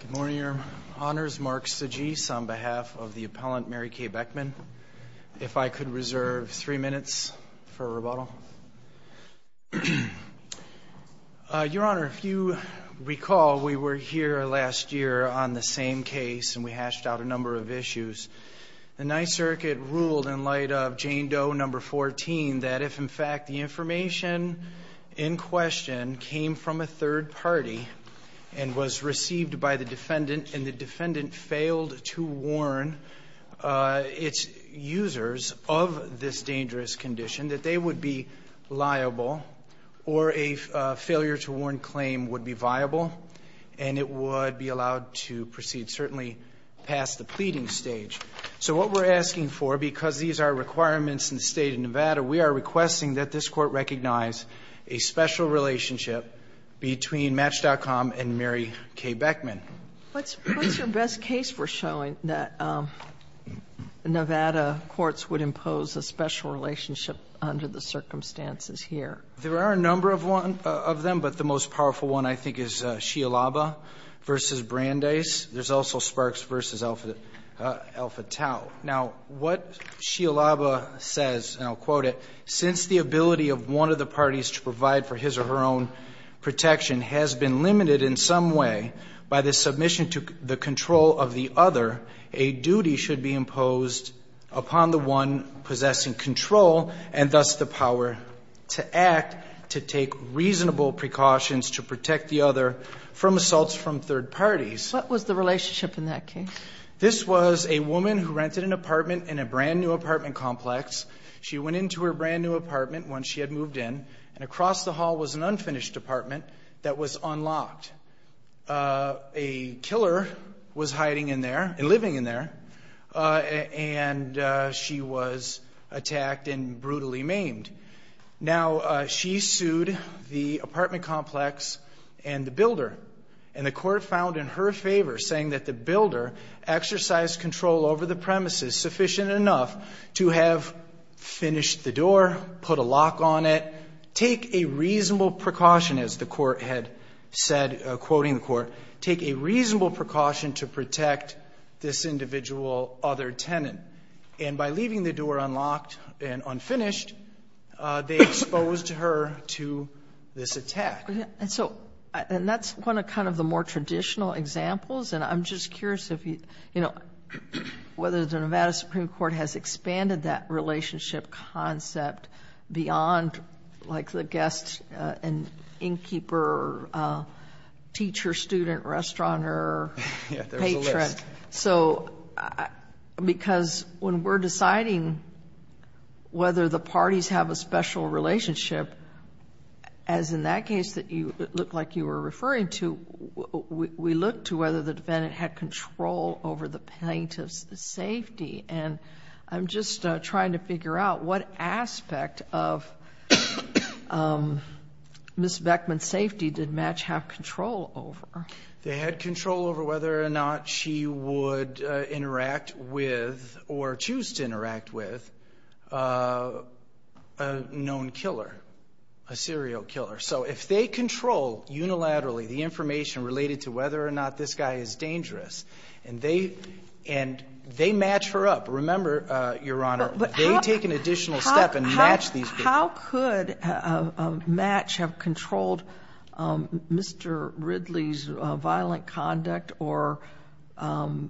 Good morning, Your Honors. Mark Sagis on behalf of the appellant Mary Kay Beckman. If I could reserve three minutes for rebuttal. Your Honor, if you recall, we were here last year on the same case and we hashed out a number of issues. The Ninth Circuit ruled in light of Jane Doe No. 14 that if, in fact, the information in question came from a third party and was received by the defendant and the defendant failed to warn its users of this dangerous condition, that they would be liable or a failure to warn claim would be viable and it would be allowed to proceed certainly past the pleading stage. So what we're asking for, because these are requirements in the State of Nevada, we are requesting that this Court recognize a special relationship between Match.com and Mary Kay Beckman. What's your best case for showing that Nevada courts would impose a special relationship under the circumstances here? There are a number of them, but the most powerful one, I think, is Sialaba v. Brandeis. There's also Sparks v. Alpha Tau. Now, what Sialaba says, and I'll quote it, Since the ability of one of the parties to provide for his or her own protection has been limited in some way by the submission to the control of the other, a duty should be imposed upon the one possessing control and thus the power to act to take reasonable precautions to protect the other from assaults from third parties. What was the relationship in that case? This was a woman who rented an apartment in a brand new apartment complex. She went into her brand new apartment once she had moved in, and across the hall was an unfinished apartment that was unlocked. A killer was hiding in there, living in there, and she was attacked and brutally maimed. Now, she sued the apartment complex and the builder, and the court found in her favor, saying that the builder exercised control over the premises sufficient enough to have finished the door, put a lock on it, take a reasonable precaution, as the court had said, quoting the court, take a reasonable precaution to protect this individual other tenant. And by leaving the door unlocked and unfinished, they exposed her to this attack. And so, and that's one of kind of the more traditional examples, and I'm just curious if you, you know, whether the Nevada Supreme Court has expanded that relationship concept beyond like the guest and innkeeper, teacher, student, restauranteur, patron. Yeah, there's a list. So, because when we're deciding whether the parties have a special relationship, as in that case that you, it looked like you were referring to, we looked to whether the defendant had control over the plaintiff's safety. And I'm just trying to figure out what aspect of Ms. Beckman's safety did Match have control over? They had control over whether or not she would interact with, or choose to interact with a known killer, a serial killer. So, if they control unilaterally the information related to whether or not this guy is dangerous, and they, and they match her up, remember, Your Honor, they take an additional step and match these people. How could Match have controlled Mr. Ridley's violent conduct or, you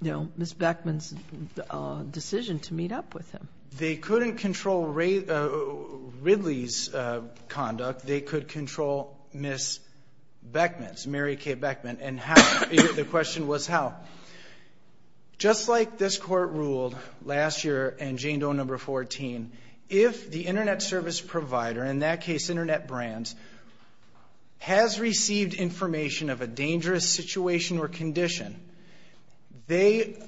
know, Ms. Beckman's decision to meet up with him? They couldn't control Ridley's conduct. They could control Ms. Beckman's, Mary K. Beckman. And how, the question was how. Just like this Court ruled last year in Jane Doe No. 14, if the Internet service provider, in that case Internet Brands, has received information of a dangerous situation or condition, they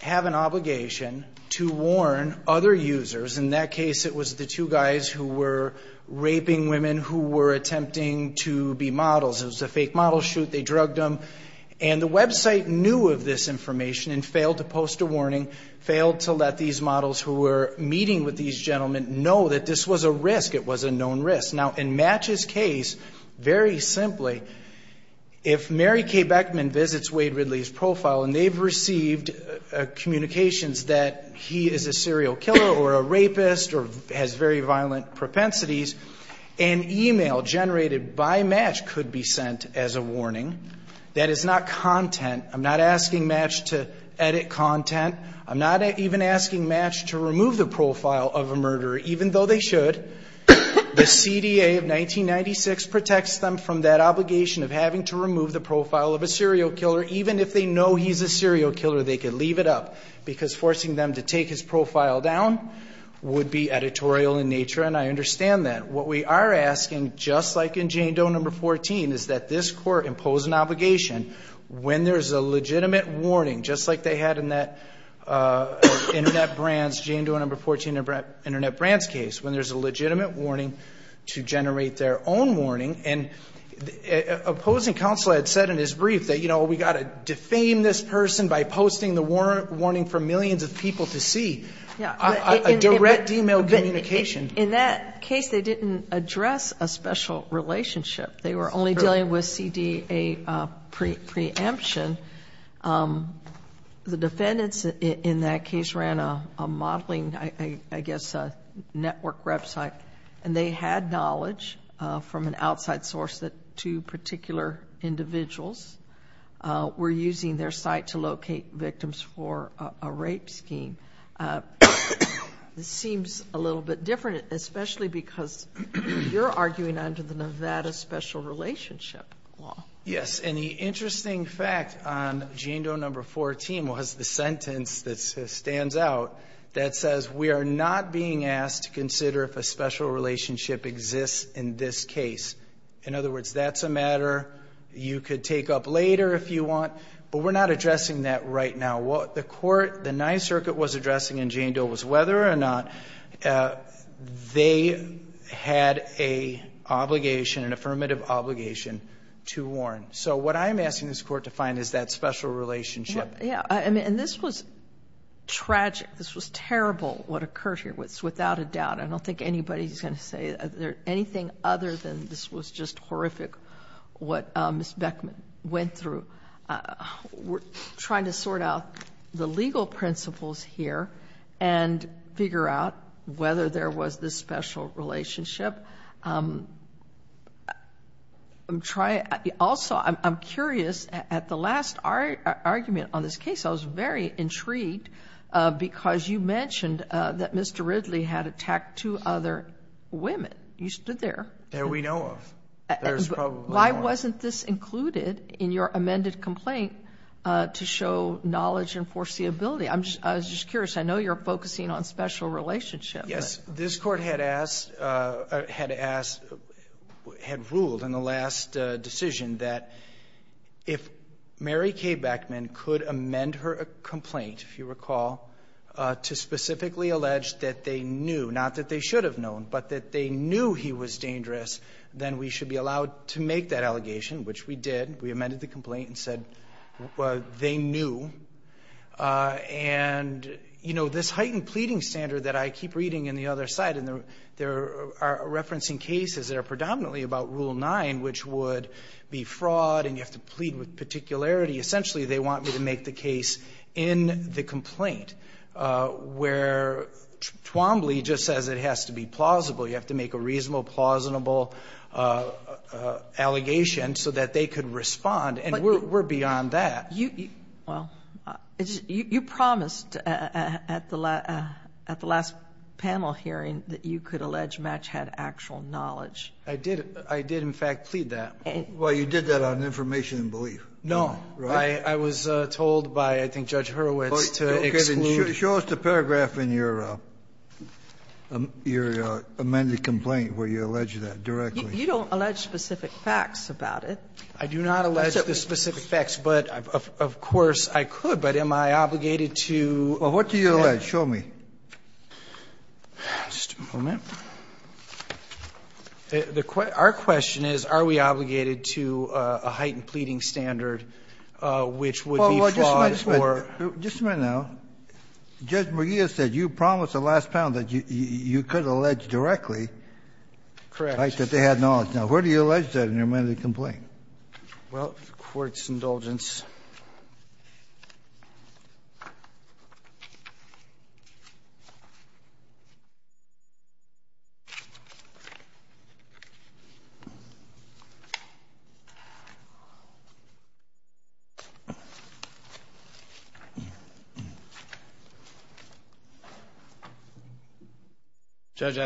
have an obligation to warn other users. In that case, it was the two guys who were raping women who were attempting to be models. It was a fake model shoot. They drugged them. And the website knew of this information and failed to post a warning, failed to let these models who were meeting with these gentlemen know that this was a risk. It was a known risk. Now, in Match's case, very simply, if Mary K. Beckman visits Wade Ridley's profile and they've received communications that he is a serial killer or a rapist or has very violent propensities, an email generated by Match could be sent as a warning. That is not content. I'm not asking Match to edit content. I'm not even asking Match to remove the profile of a murderer, even though they should. The CDA of 1996 protects them from that obligation of having to remove the profile of a serial killer, even if they know he's a serial killer, they could leave it up because forcing them to take his profile down would be editorial in nature, and I understand that. What we are asking, just like in Jane Doe No. 14, is that this Court impose an obligation when there's a legitimate warning, just like they had in that Internet Brands, Jane Doe No. 14 Internet Brands case, when there's a legitimate warning to generate their own warning, and opposing counsel had said in his brief that, you know, we've got to defame this person by posting the warning for millions of people to see, a direct email communication. In that case, they didn't address a special relationship. They were only dealing with a CDA preemption. The defendants in that case ran a modeling, I guess, network website, and they had knowledge from an outside source that two particular individuals were using their site to locate victims for a rape scheme. This seems a little bit different, especially because you're arguing under the Nevada Special Relationship Law. Yes. And the interesting fact on Jane Doe No. 14 was the sentence that stands out that says we are not being asked to consider if a special relationship exists in this case. In other words, that's a matter you could take up later if you want, but we're not addressing that right now. What the Court, the Ninth Circuit was addressing in Jane Doe was whether or not they had a obligation, an affirmative obligation, to warn. So what I'm asking this Court to find is that special relationship. Yeah. And this was tragic. This was terrible, what occurred here, without a doubt. I don't think anybody's going to say anything other than this was just horrific, what Ms. Beckman went through. We're trying to sort out the legal principles here and figure out whether there was this special relationship. Also, I'm curious, at the last argument on this case, I was very intrigued because you mentioned that Mr. Ridley had attacked two other women. You stood there. That we know of. There's probably more. Why wasn't this included in your amended complaint to show knowledge and foreseeability? I was just curious. I know you're focusing on special relationship. Yes. This Court had asked, had ruled in the last decision that if Mary Kay Beckman could amend her complaint, if you recall, to specifically allege that they knew, not that they should have known, but that they knew he was dangerous, then we should be allowed to make that allegation, which we did. We amended the complaint and said they knew. And you know, this heightened pleading standard that I keep reading in the other side, there are referencing cases that are predominantly about Rule 9, which would be fraud and you have to plead with particularity. Essentially, they want me to make the case in the complaint where Twombly just says it has to be plausible. You have to make a reasonable, plausible allegation so that they could respond. And we're beyond that. Well, you promised at the last panel hearing that you could allege Match had actual knowledge. I did. I did, in fact, plead that. Well, you did that on information and belief. No. Right? I was told by, I think, Judge Hurwitz to exclude. Show us the paragraph in your amended complaint where you allege that directly. You don't allege specific facts about it. I do not allege the specific facts, but of course I could. But am I obligated to? Well, what do you allege? Show me. Just a moment. Our question is, are we obligated to a heightened pleading standard which would be flawed or? Well, just a minute. Just a minute now. Judge McGeer said you promised at the last panel that you could allege directly that they had knowledge. Now, where do you allege that in your amended complaint? Well, the Court's indulgence. Judge,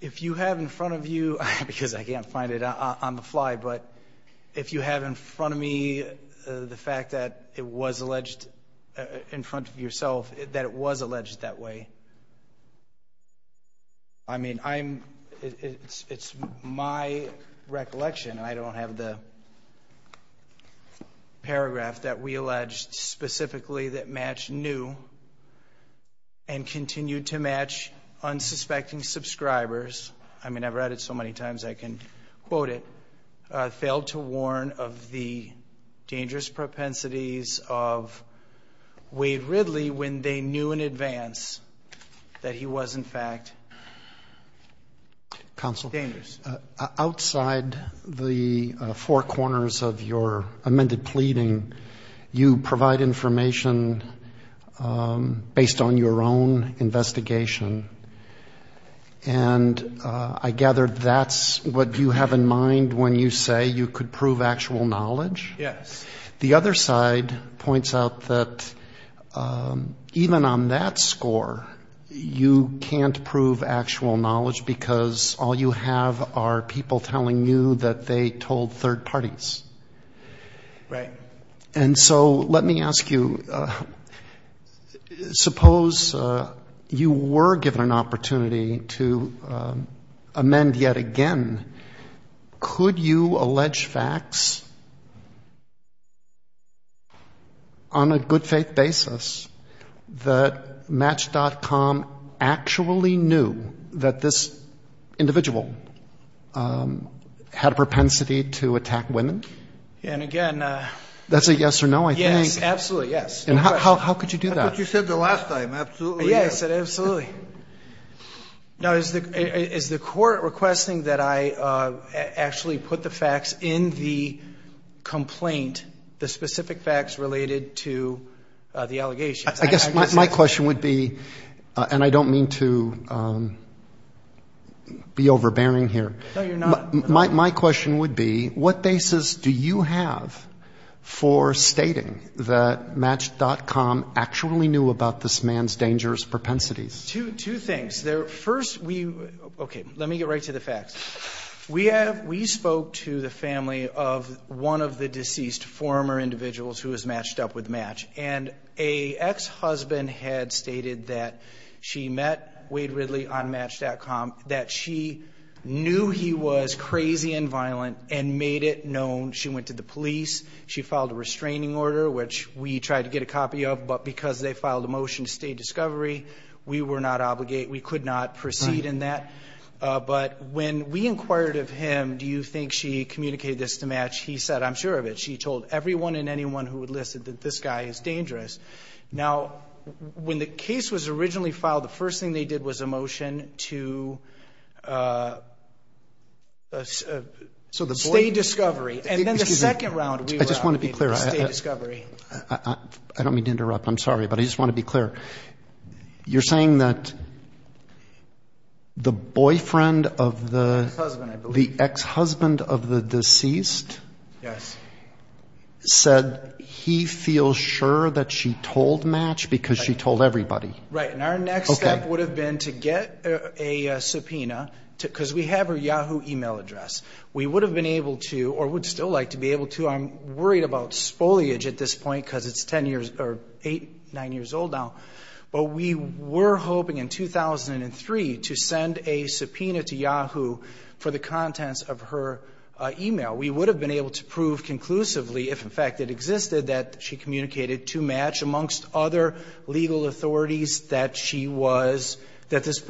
if you have in front of you, because I can't find it on the fly, but if you have in front of me the fact that it was alleged in front of yourself that it was alleged that way, I mean, it's my recollection. I don't have the paragraph that we alleged specifically that matched new and continued to match unsuspecting subscribers. I mean, I've read it so many times I can quote it. Failed to warn of the dangerous propensities of Wade Ridley when they knew in advance that he was in fact dangerous. Counsel, outside the four corners of your amended pleading, you provide information based on your own investigation. And I gather that's what you have in mind when you say you could prove actual knowledge? Yes. The other side points out that even on that score, you can't prove actual knowledge because all you have are people telling you that they told third parties. Right. And so let me ask you, suppose you were given an opportunity to amend yet again, could you allege facts on a good faith basis that Match.com actually knew that this individual had a propensity to attack women? And again, That's a yes or no, I think. Yes, absolutely, yes. And how could you do that? I thought you said the last time, absolutely yes. Yes, I said absolutely. Now, is the court requesting that I actually put the facts in the complaint, the specific facts related to the allegations? I guess my question would be, and I don't mean to be overbearing here. No, you're not. My question would be, what basis do you have for stating that Match.com actually knew about this man's dangerous propensities? Two things. First, let me get right to the facts. We spoke to the family of one of the deceased former individuals who was matched up with Match. And a ex-husband had stated that she met Wade Ridley on Match.com, that she knew he was crazy and violent and made it known. She went to the police. She filed a restraining order, which we tried to get a copy of, but because they filed a motion to state discovery, we were not obligated, we could not proceed in that. But when we inquired of him, do you think she communicated this to Match? He said, I'm sure of it. Now, when the case was originally filed, the first thing they did was a motion to state discovery. And then the second round, we were obligated to state discovery. I don't mean to interrupt. I'm sorry, but I just want to be clear. You're saying that the boyfriend of the ex-husband of the deceased said he feels sure that she told Match because she told everybody? Right, and our next step would have been to get a subpoena because we have her Yahoo email address. We would have been able to or would still like to be able to. I'm worried about spoilage at this point because it's eight, nine years old now. But we were hoping in 2003 to send a subpoena to Yahoo for the contents of her email. We would have been able to prove conclusively if, in fact, it existed that she communicated to Match amongst other legal authorities that she was, that this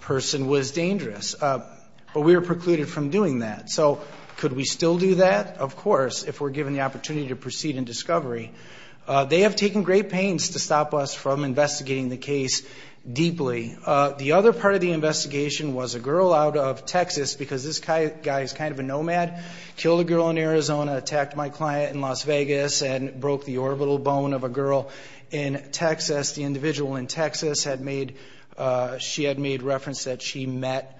person was dangerous. But we were precluded from doing that. So could we still do that? Of course, if we're given the opportunity to proceed in discovery. They have taken great pains to stop us from investigating the case deeply. The other part of the investigation was a girl out of Texas because this guy is kind of a nomad, killed a girl in Arizona, attacked my client in Las Vegas, and broke the orbital bone of a girl in Texas. The individual in Texas had made, she had made reference that she met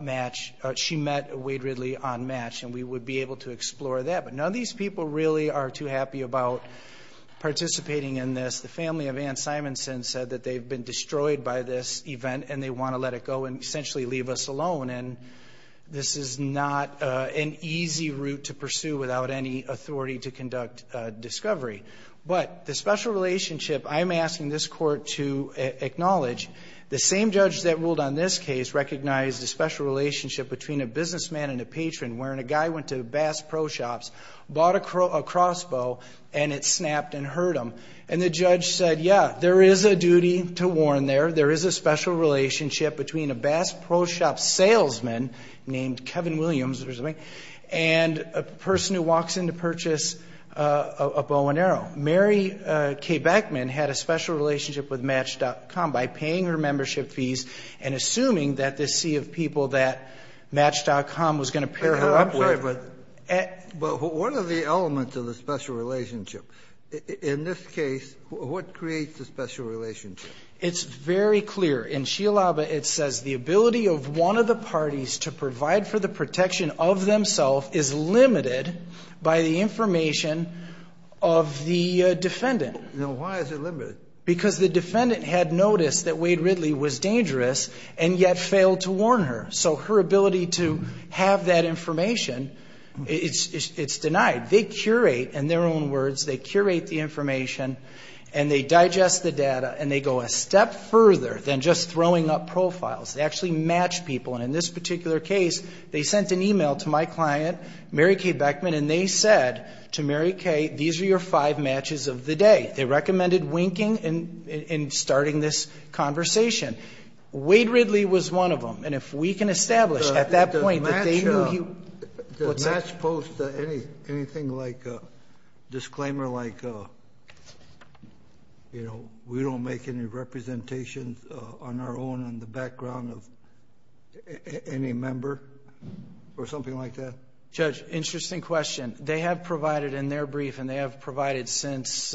Match, she met Wade Ridley on Match, and we would be able to explore that. But none of these people really are too happy about participating in this. The family of Ann Simonson said that they've been destroyed by this event and they want to let it go and essentially leave us alone. And this is not an easy route to pursue without any authority to conduct discovery. But the special relationship I'm asking this court to acknowledge, the same judge that ruled on this case recognized a special relationship between a businessman and a patron wherein a guy went to Bass Pro Shops, bought a crossbow, and it snapped and hurt him. And the judge said, yeah, there is a duty to warn there, there is a special relationship between a Bass Pro Shop salesman named Kevin Williams, and a person who walks in to purchase a bow and arrow. Mary Kay Beckman had a special relationship with Match.com by paying her membership fees and assuming that this sea of people that Match.com was going to pair her up with. But what are the elements of the special relationship? In this case, what creates the special relationship? It's very clear. In Shialaba, it says the ability of one of the parties to provide for the protection of themselves is limited by the information of the defendant. Now, why is it limited? Because the defendant had noticed that Wade Ridley was dangerous and yet failed to warn her. So her ability to have that information, it's denied. They curate, in their own words, they curate the information and they digest the data and they go a step further than just throwing up profiles. They actually match people. And in this particular case, they sent an email to my client, Mary Kay Beckman, and they said to Mary Kay, these are your five matches of the day. They recommended winking and starting this conversation. Wade Ridley was one of them. And if we can establish at that point that they knew he was. Does Match post anything like a disclaimer like, you know, we don't make any representations on our own on the background of any member or something like that? Judge, interesting question. They have provided in their brief and they have provided since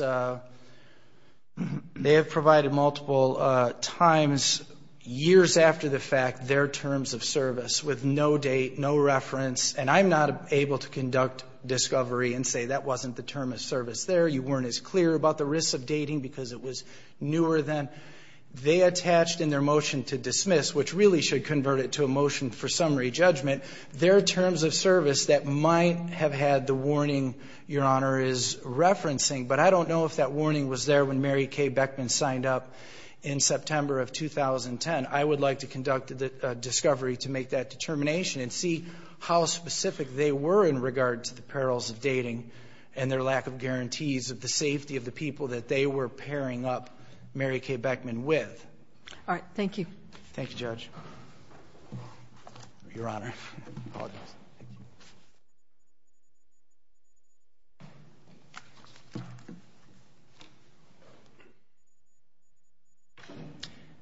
they have provided multiple times, years after the fact, their terms of service with no date, no reference. And I'm not able to conduct discovery and say that wasn't the term of service there. You weren't as clear about the risks of dating because it was newer than. They attached in their motion to dismiss, which really should convert it to a motion for summary judgment, their terms of service that might have had the warning Your Honor is referencing. But I don't know if that warning was there when Mary Kay Beckman signed up in September of 2010. I would like to conduct the discovery to make that determination and see how specific they were in regard to the perils of dating and their lack of guarantees of the safety of the people that they were pairing up Mary Kay Beckman with. All right. Thank you. Thank you, Judge. Your Honor, I apologize.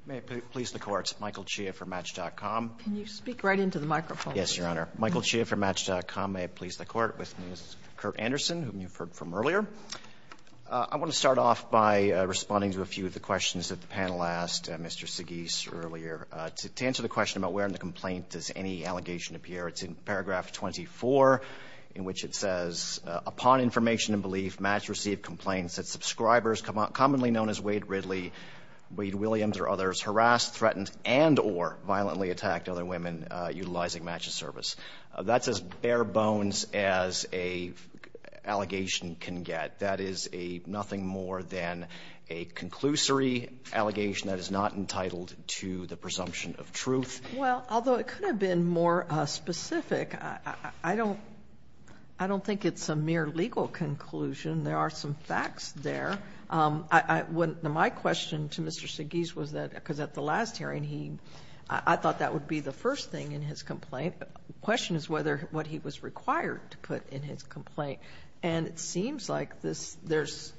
May it please the Court. Michael Chia for Match.com. Can you speak right into the microphone? Yes, Your Honor. Michael Chia for Match.com. May it please the Court. With me is Kurt Anderson, whom you've heard from earlier. I want to start off by responding to a few of the questions that the panel asked Mr. Anderson about where in the complaint does any allegation appear. It's in paragraph 24, in which it says, Upon information and belief, Match received complaints that subscribers commonly known as Wade Ridley, Wade Williams, or others harassed, threatened, and or violently attacked other women utilizing Match's service. That's as bare bones as an allegation can get. That is a nothing more than a conclusory allegation that is not entitled to the presumption of truth. Well, although it could have been more specific, I don't think it's a mere legal conclusion. There are some facts there. My question to Mr. Seggese was that, because at the last hearing, I thought that would be the first thing in his complaint. The question is whether what he was required to put in his complaint. And it seems like there's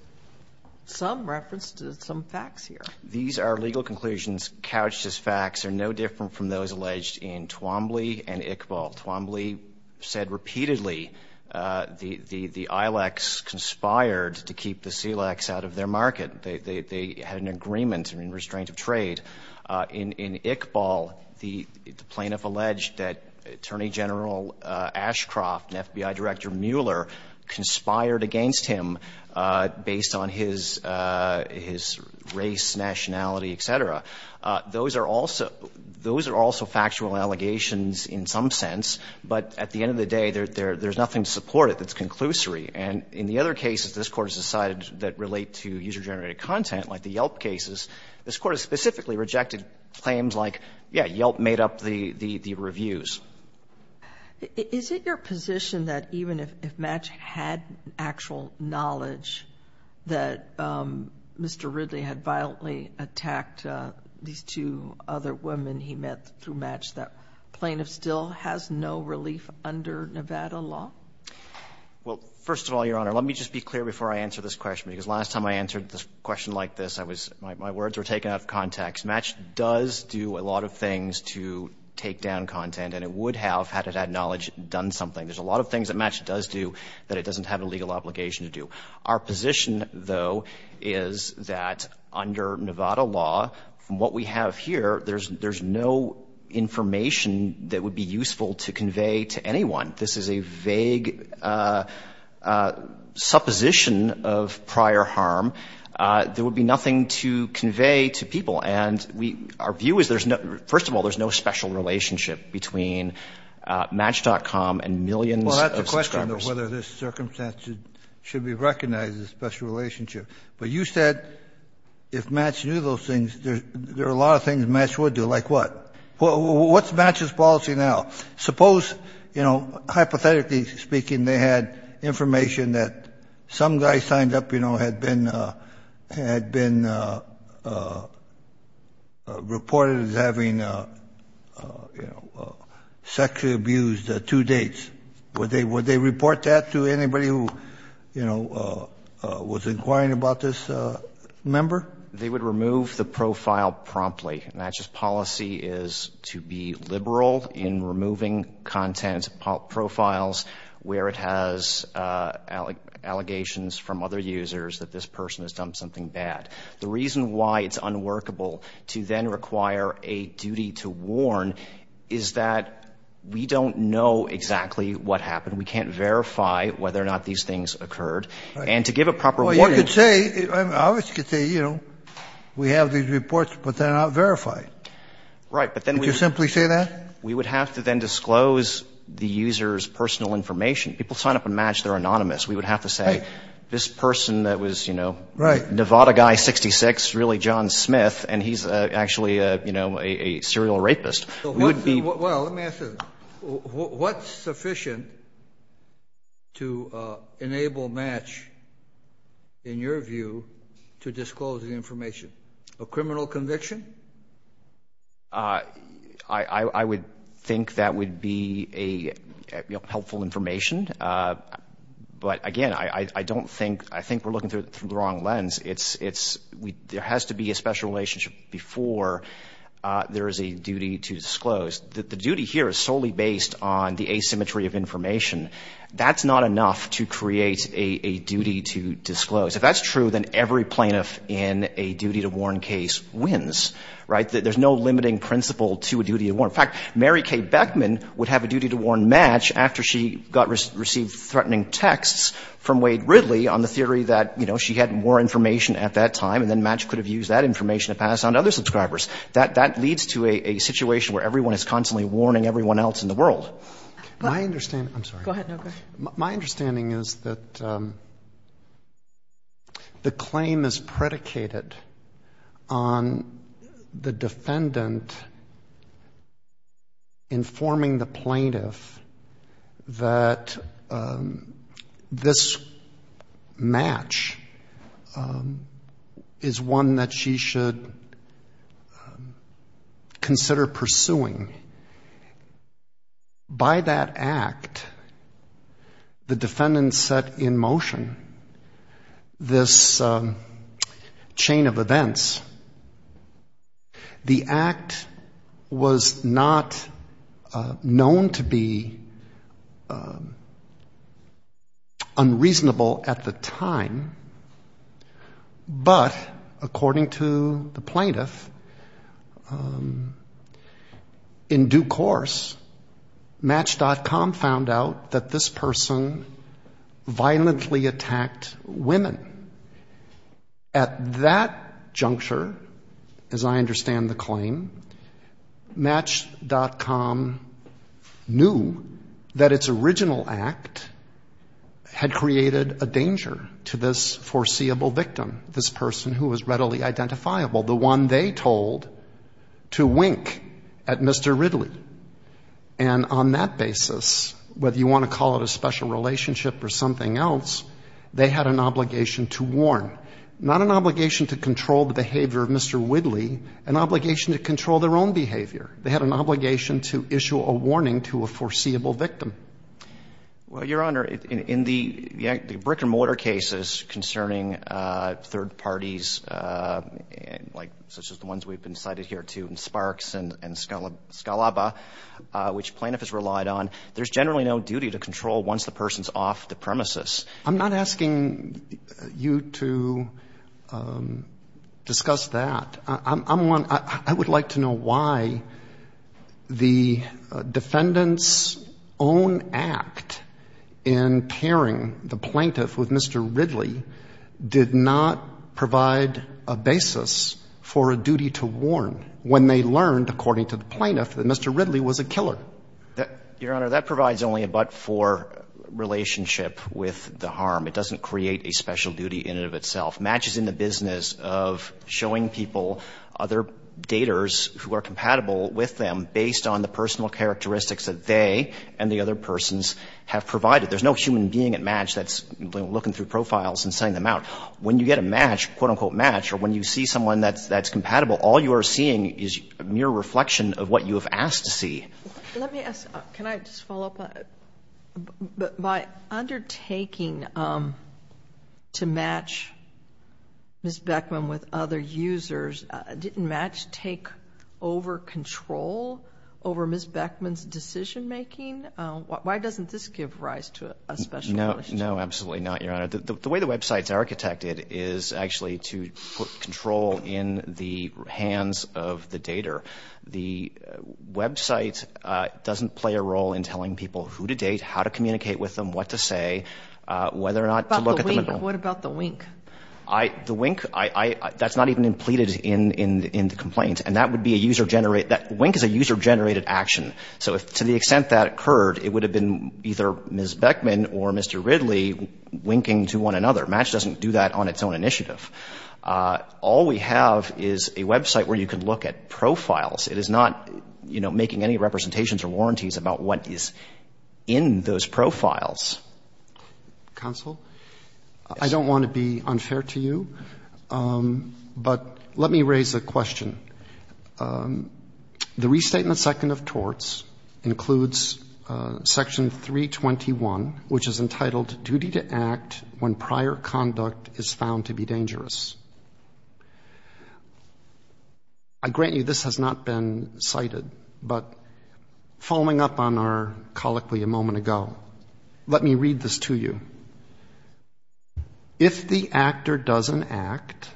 some reference to some facts here. These are legal conclusions couched as facts. They're no different from those alleged in Twombly and Iqbal. Twombly said repeatedly the ILX conspired to keep the SELEX out of their market. They had an agreement in restraint of trade. In Iqbal, the plaintiff alleged that Attorney General Ashcroft and FBI Director Mueller conspired against him based on his race, nationality, et cetera. Those are also factual allegations in some sense, but at the end of the day, there's nothing to support it that's conclusory. And in the other cases this Court has decided that relate to user-generated content, like the Yelp cases, this Court has specifically rejected claims like, yeah, Yelp made up the reviews. Is it your position that even if Match had actual knowledge that Mr. Ridley had violently attacked these two other women he met through Match, that plaintiff still has no relief under Nevada law? Well, first of all, Your Honor, let me just be clear before I answer this question, because last time I answered this question like this, I was — my words were taken out of context. Match does do a lot of things to take down content, and it would have, had it had knowledge, done something. There's a lot of things that Match does do that it doesn't have a legal obligation to do. Our position, though, is that under Nevada law, from what we have here, there's no information that would be useful to convey to anyone. This is a vague supposition of prior harm. There would be nothing to convey to people. And we — our view is there's no — first of all, there's no special relationship between Match.com and millions of subscribers. Well, that's the question, though, whether this circumstance should be recognized as a special relationship. But you said if Match knew those things, there are a lot of things Match would do. Like what? What's Match's policy now? Suppose, you know, hypothetically speaking, they had information that some guy signed up, you know, had been — had been reported as having, you know, sexually abused two dates. Would they — would they report that to anybody who, you know, was inquiring about this member? They would remove the profile promptly. And Match's policy is to be liberal in removing content profiles where it has allegations from other users that this person has done something bad. The reason why it's unworkable to then require a duty to warn is that we don't know exactly what happened. We can't verify whether or not these things occurred. And to give a proper warning — Well, you could say — I mean, obviously you could say, you know, we have these reports but they're not verified. Right. But then we — Did you simply say that? We would have to then disclose the user's personal information. People sign up on Match. They're anonymous. We would have to say, this person that was, you know — Right. Nevada guy, 66, really John Smith, and he's actually, you know, a serial rapist. Well, let me ask you this. What's sufficient to enable Match, in your view, to disclose the information? A criminal conviction? I would think that would be a helpful information. But, again, I don't think — I think we're looking through the wrong lens. It's — there has to be a special relationship before there is a duty to disclose. The duty here is solely based on the asymmetry of information. That's not enough to create a duty to disclose. If that's true, then every plaintiff in a duty to warn case wins. Right? There's no limiting principle to a duty to warn. In fact, Mary Kay Beckman would have a duty to warn Match after she received threatening texts from Wade Ridley on the theory that, you know, she had more information at that time and then Match could have used that information to pass on to other subscribers. That leads to a situation where everyone is constantly warning everyone else in the world. My understanding — I'm sorry. Go ahead. My understanding is that the claim is predicated on the defendant informing the plaintiff that this Match is one that she should consider pursuing. By that act, the defendant set in motion this chain of events. The act was not known to be unreasonable at the time, but according to the plaintiff, in due course, Match.com found out that this person violently attacked women. At that juncture, as I understand the claim, Match.com knew that its original act had created a danger to this foreseeable victim, this person who was readily identifiable, the one they told to wink at Mr. Ridley. And on that basis, whether you want to call it a special relationship or something else, they had an obligation to warn. Not an obligation to control the behavior of Mr. Ridley, an obligation to control their own behavior. They had an obligation to issue a warning to a foreseeable victim. Well, Your Honor, in the brick-and-mortar cases concerning third parties, such as the ones we've been cited here to in Sparks and Scalaba, which plaintiff has relied on, there's generally no duty to control once the person's off the premises. I'm not asking you to discuss that. I would like to know why the defendant's own act in pairing the plaintiff with Mr. Ridley did not provide a basis for a duty to warn when they learned, according to the plaintiff, that Mr. Ridley was a killer. Your Honor, that provides only a but-for relationship with the harm. It doesn't create a special duty in and of itself. Match is in the business of showing people other daters who are compatible with them based on the personal characteristics that they and the other persons have provided. There's no human being at match that's looking through profiles and sending them out. When you get a match, quote-unquote match, or when you see someone that's compatible, all you are seeing is a mere reflection of what you have asked to see. Let me ask, can I just follow up? By undertaking to match Ms. Beckman with other users, didn't match take over control over Ms. Beckman's decision-making? Why doesn't this give rise to a special punishment? No, absolutely not, Your Honor. The way the website's architected is actually to put control in the hands of the dater. The website doesn't play a role in telling people who to date, how to communicate with them, what to say, whether or not to look at the middle. What about the wink? The wink, that's not even implemented in the complaint. And that would be a user-generated, that wink is a user-generated action. So to the extent that occurred, it would have been either Ms. Beckman or Mr. Ridley winking to one another. Match doesn't do that on its own initiative. All we have is a website where you can look at profiles. It is not, you know, making any representations or warranties about what is in those profiles. Counsel, I don't want to be unfair to you, but let me raise a question. The Restatement Second of Torts includes Section 321, which is entitled Duty to Act When Prior Conduct is Found to be Dangerous. I grant you this has not been cited, but following up on our colloquy a moment ago, let me read this to you. If the actor doesn't act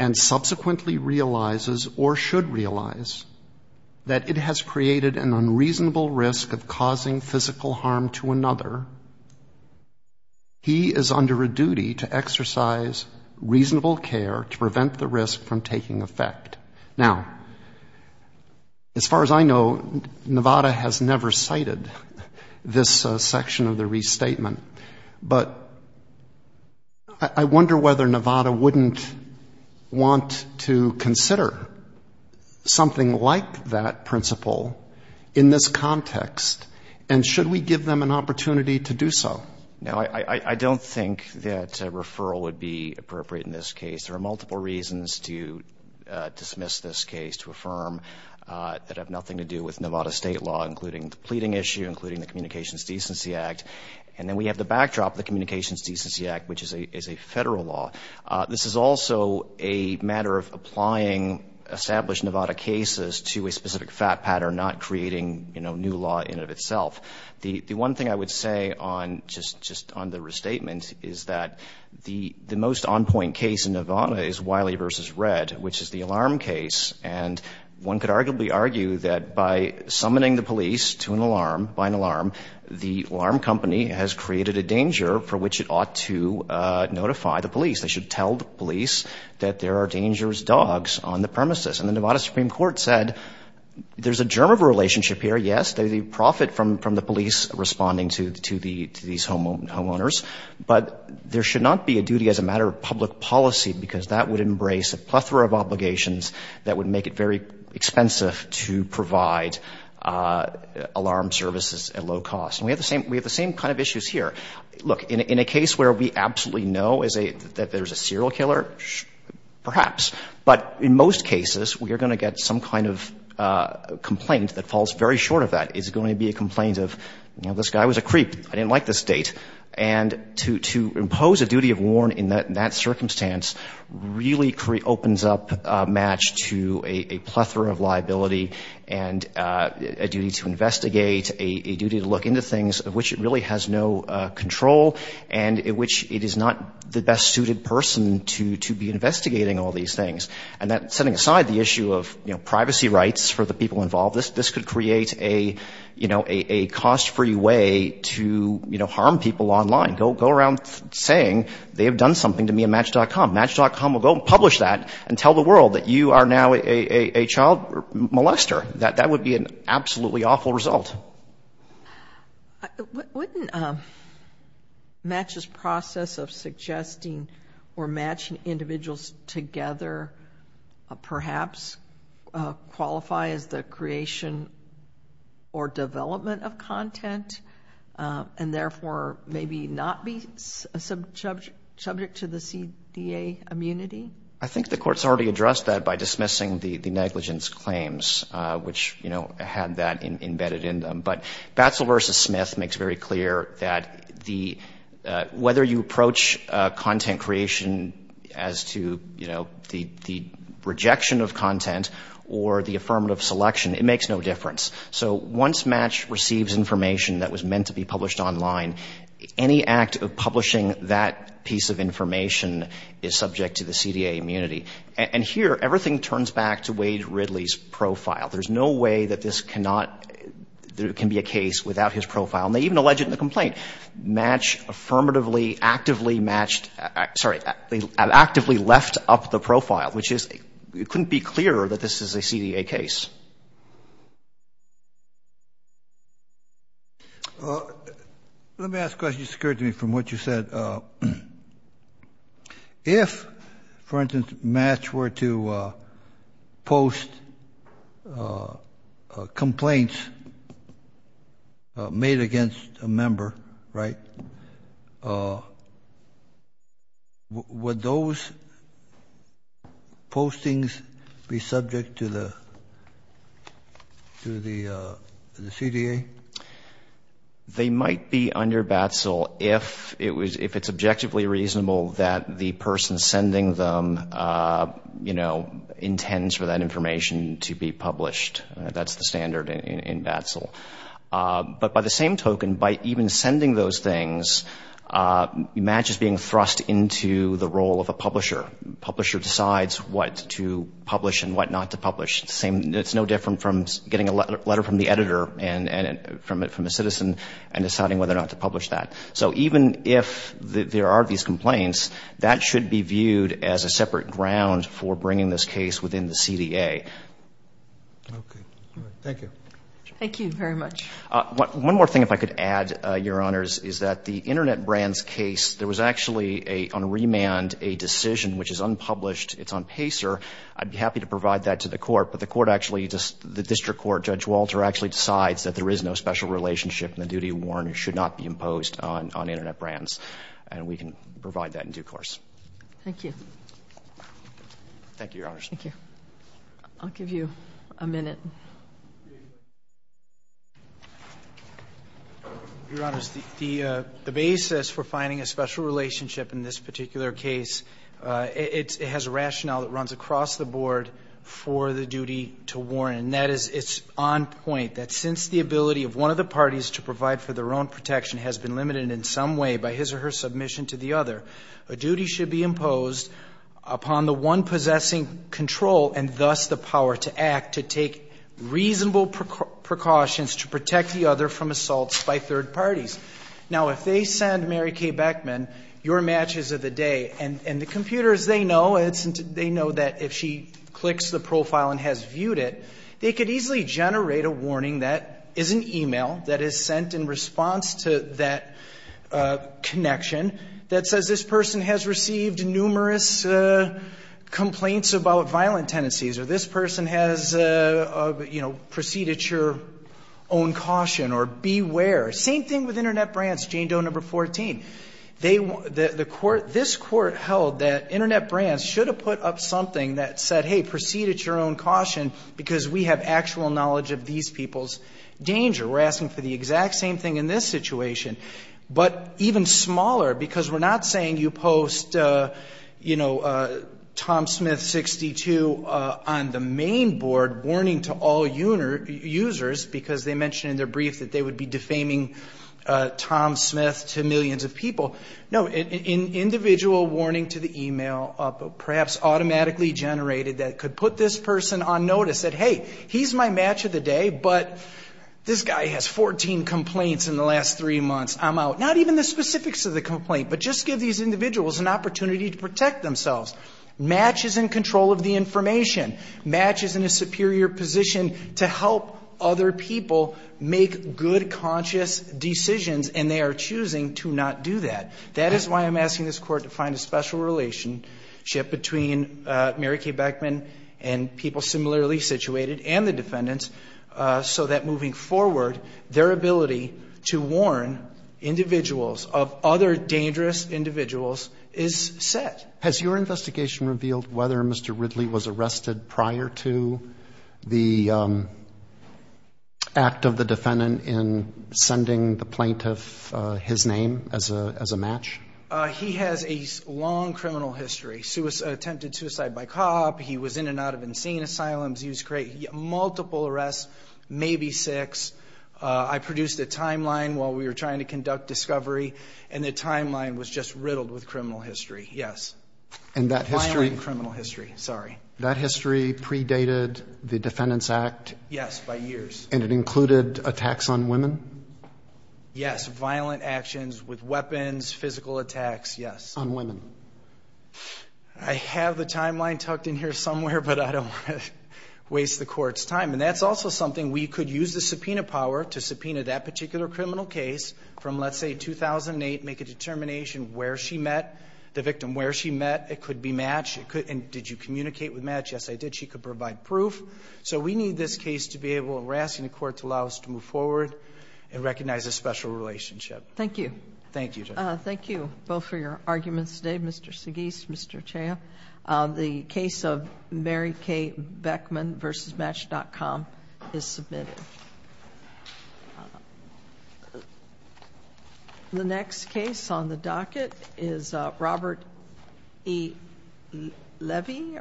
and subsequently realizes, or should realize, that it has created an unreasonable risk of causing physical harm to another, he is under a duty to exercise reasonable care to prevent the risk from taking effect. Now, as far as I know, Nevada has never cited this section of the Restatement. But I wonder whether Nevada wouldn't want to consider something like that principle in this context, and should we give them an opportunity to do so? No, I don't think that a referral would be appropriate in this case. There are multiple reasons to dismiss this case, to affirm that it had nothing to do with Nevada state law, including the pleading issue, including the Communications Decency Act. And then we have the backdrop, the Communications Decency Act, which is a Federal law. This is also a matter of applying established Nevada cases to a specific FAT pattern, not creating, you know, new law in and of itself. The one thing I would say on just the Restatement is that the most on-point case in Nevada is Wiley v. Red, which is the alarm case. And one could arguably argue that by summoning the police to an alarm, by an alarm, the alarm company has created a danger for which it ought to notify the police. They should tell the police that there are dangerous dogs on the premises. And the Nevada Supreme Court said there's a germ of a relationship here, yes, the profit from the police responding to these homeowners, but there should not be a duty as a matter of public policy, because that would embrace a plethora of obligations that would make it very expensive to provide alarm services at low cost. And we have the same kind of issues here. Look, in a case where we absolutely know that there's a serial killer, perhaps. But in most cases, we are going to get some kind of complaint that falls very short of that. It's going to be a complaint of, you know, this guy was a creep. I didn't like this date. And to impose a duty of warn in that circumstance really opens up a match to a plethora of liability and a duty to investigate, a duty to look into things of which it really has no control and in which it is not the best suited person to be investigating all these things. And that, setting aside the issue of, you know, privacy rights for the people involved, this could create a, you know, a cost-free way to, you know, harm people online. Go around saying they have done something to me at match.com. Match.com will go and publish that and tell the world that you are now a child molester. That would be an absolutely awful result. Wouldn't Match's process of suggesting or matching individuals together perhaps qualify as the creation or development of content and therefore maybe not be subject to the CDA immunity? I think the court's already addressed that by dismissing the negligence claims, which, you know, had that embedded in them. But Batsel v. Smith makes very clear that whether you approach content creation as to, you know, the rejection of content or the affirmative selection, it makes no difference. So once Match receives information that was meant to be published online, any act of publishing that piece of information is subject to the CDA immunity. And here, everything turns back to Wade Ridley's profile. There's no way that this cannot be a case without his profile. And they even allege it in the complaint. Match affirmatively actively matched — sorry, actively left up the profile, which is — it couldn't be clearer that this is a CDA case. Let me ask a question that occurred to me from what you said. If, for instance, Match were to post complaints made against a member, right, would those postings be subject to the CDA? They might be under Batsel if it's objectively reasonable that the person sending them, you know, intends for that information to be published. That's the standard in Batsel. But by the same token, by even sending those things, Match is being thrust into the role of a publisher. It's no different from getting a letter from the editor and from a citizen and deciding whether or not to publish that. So even if there are these complaints, that should be viewed as a separate ground for bringing this case within the CDA. Okay. All right. Thank you. Thank you very much. One more thing, if I could add, Your Honors, is that the Internet Brands case, there was actually on remand a decision which is unpublished. It's on PACER. I'd be happy to provide that to the court, but the court actually, the district court, Judge Walter, actually decides that there is no special relationship and the duty of warrant should not be imposed on Internet Brands. And we can provide that in due course. Thank you. Thank you, Your Honors. Thank you. I'll give you a minute. Your Honors, the basis for finding a special relationship in this particular case, it has a rationale that runs across the board for the duty to warrant. And that is it's on point, that since the ability of one of the parties to provide for their own protection has been limited in some way by his or her submission to the other, a duty should be imposed upon the one possessing control and thus the power to act to take reasonable precautions to protect the other from assaults by third parties. Now, if they send Mary Kay Beckman your matches of the day, and the computers, they know, they know that if she clicks the profile and has viewed it, they could easily generate a warning that is an email that is sent in response to that connection that says this person has received numerous complaints about violent tendencies or this person has, you know, preceded your own caution or beware. Same thing with Internet Brands, Jane Doe No. 14. This Court held that Internet Brands should have put up something that said, hey, preceded your own caution because we have actual knowledge of these people's danger. We're asking for the exact same thing in this situation, but even smaller because we're not saying you post, you know, Tom Smith 62 on the main board warning to all users because they mentioned in their brief that they would be defaming Tom Smith to millions of people. No, an individual warning to the email perhaps automatically generated that could put this person on notice that, hey, he's my match of the day, but this guy has 14 complaints in the last three months. I'm out. Not even the specifics of the complaint, but just give these individuals an opportunity to protect themselves. Match is in control of the information. Match is in a superior position to help other people make good conscious decisions and they are choosing to not do that. That is why I'm asking this Court to find a special relationship between Mary Kay Beckman and people similarly situated and the defendants so that moving forward, their ability to warn individuals of other dangerous individuals is set. Has your investigation revealed whether Mr. Ridley was arrested prior to the act of the defendant in sending the plaintiff his name as a match? He has a long criminal history, attempted suicide by cop. He was in and out of unseen asylums. He was created multiple arrests, maybe six. I produced a timeline while we were trying to conduct discovery and the timeline was just riddled with criminal history, yes. Violent criminal history, sorry. That history predated the Defendant's Act? Yes, by years. And it included attacks on women? Yes, violent actions with weapons, physical attacks, yes. On women? I have the timeline tucked in here somewhere, but I don't want to waste the Court's time. And that's also something we could use the subpoena power to subpoena that particular criminal case from, let's say, 2008, make a determination where she met the victim, where she met. It could be match. And did you communicate with match? Yes, I did. She could provide proof. So we need this case to be able, and we're asking the Court to allow us to move forward and recognize a special relationship. Thank you. Thank you, Judge. Thank you both for your arguments today, Mr. Seguis, Mr. Chao. The case of Mary Kay Beckman v. Match.com is submitted. The next case on the docket is Robert E. Levy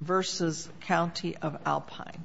v. County of Alpine.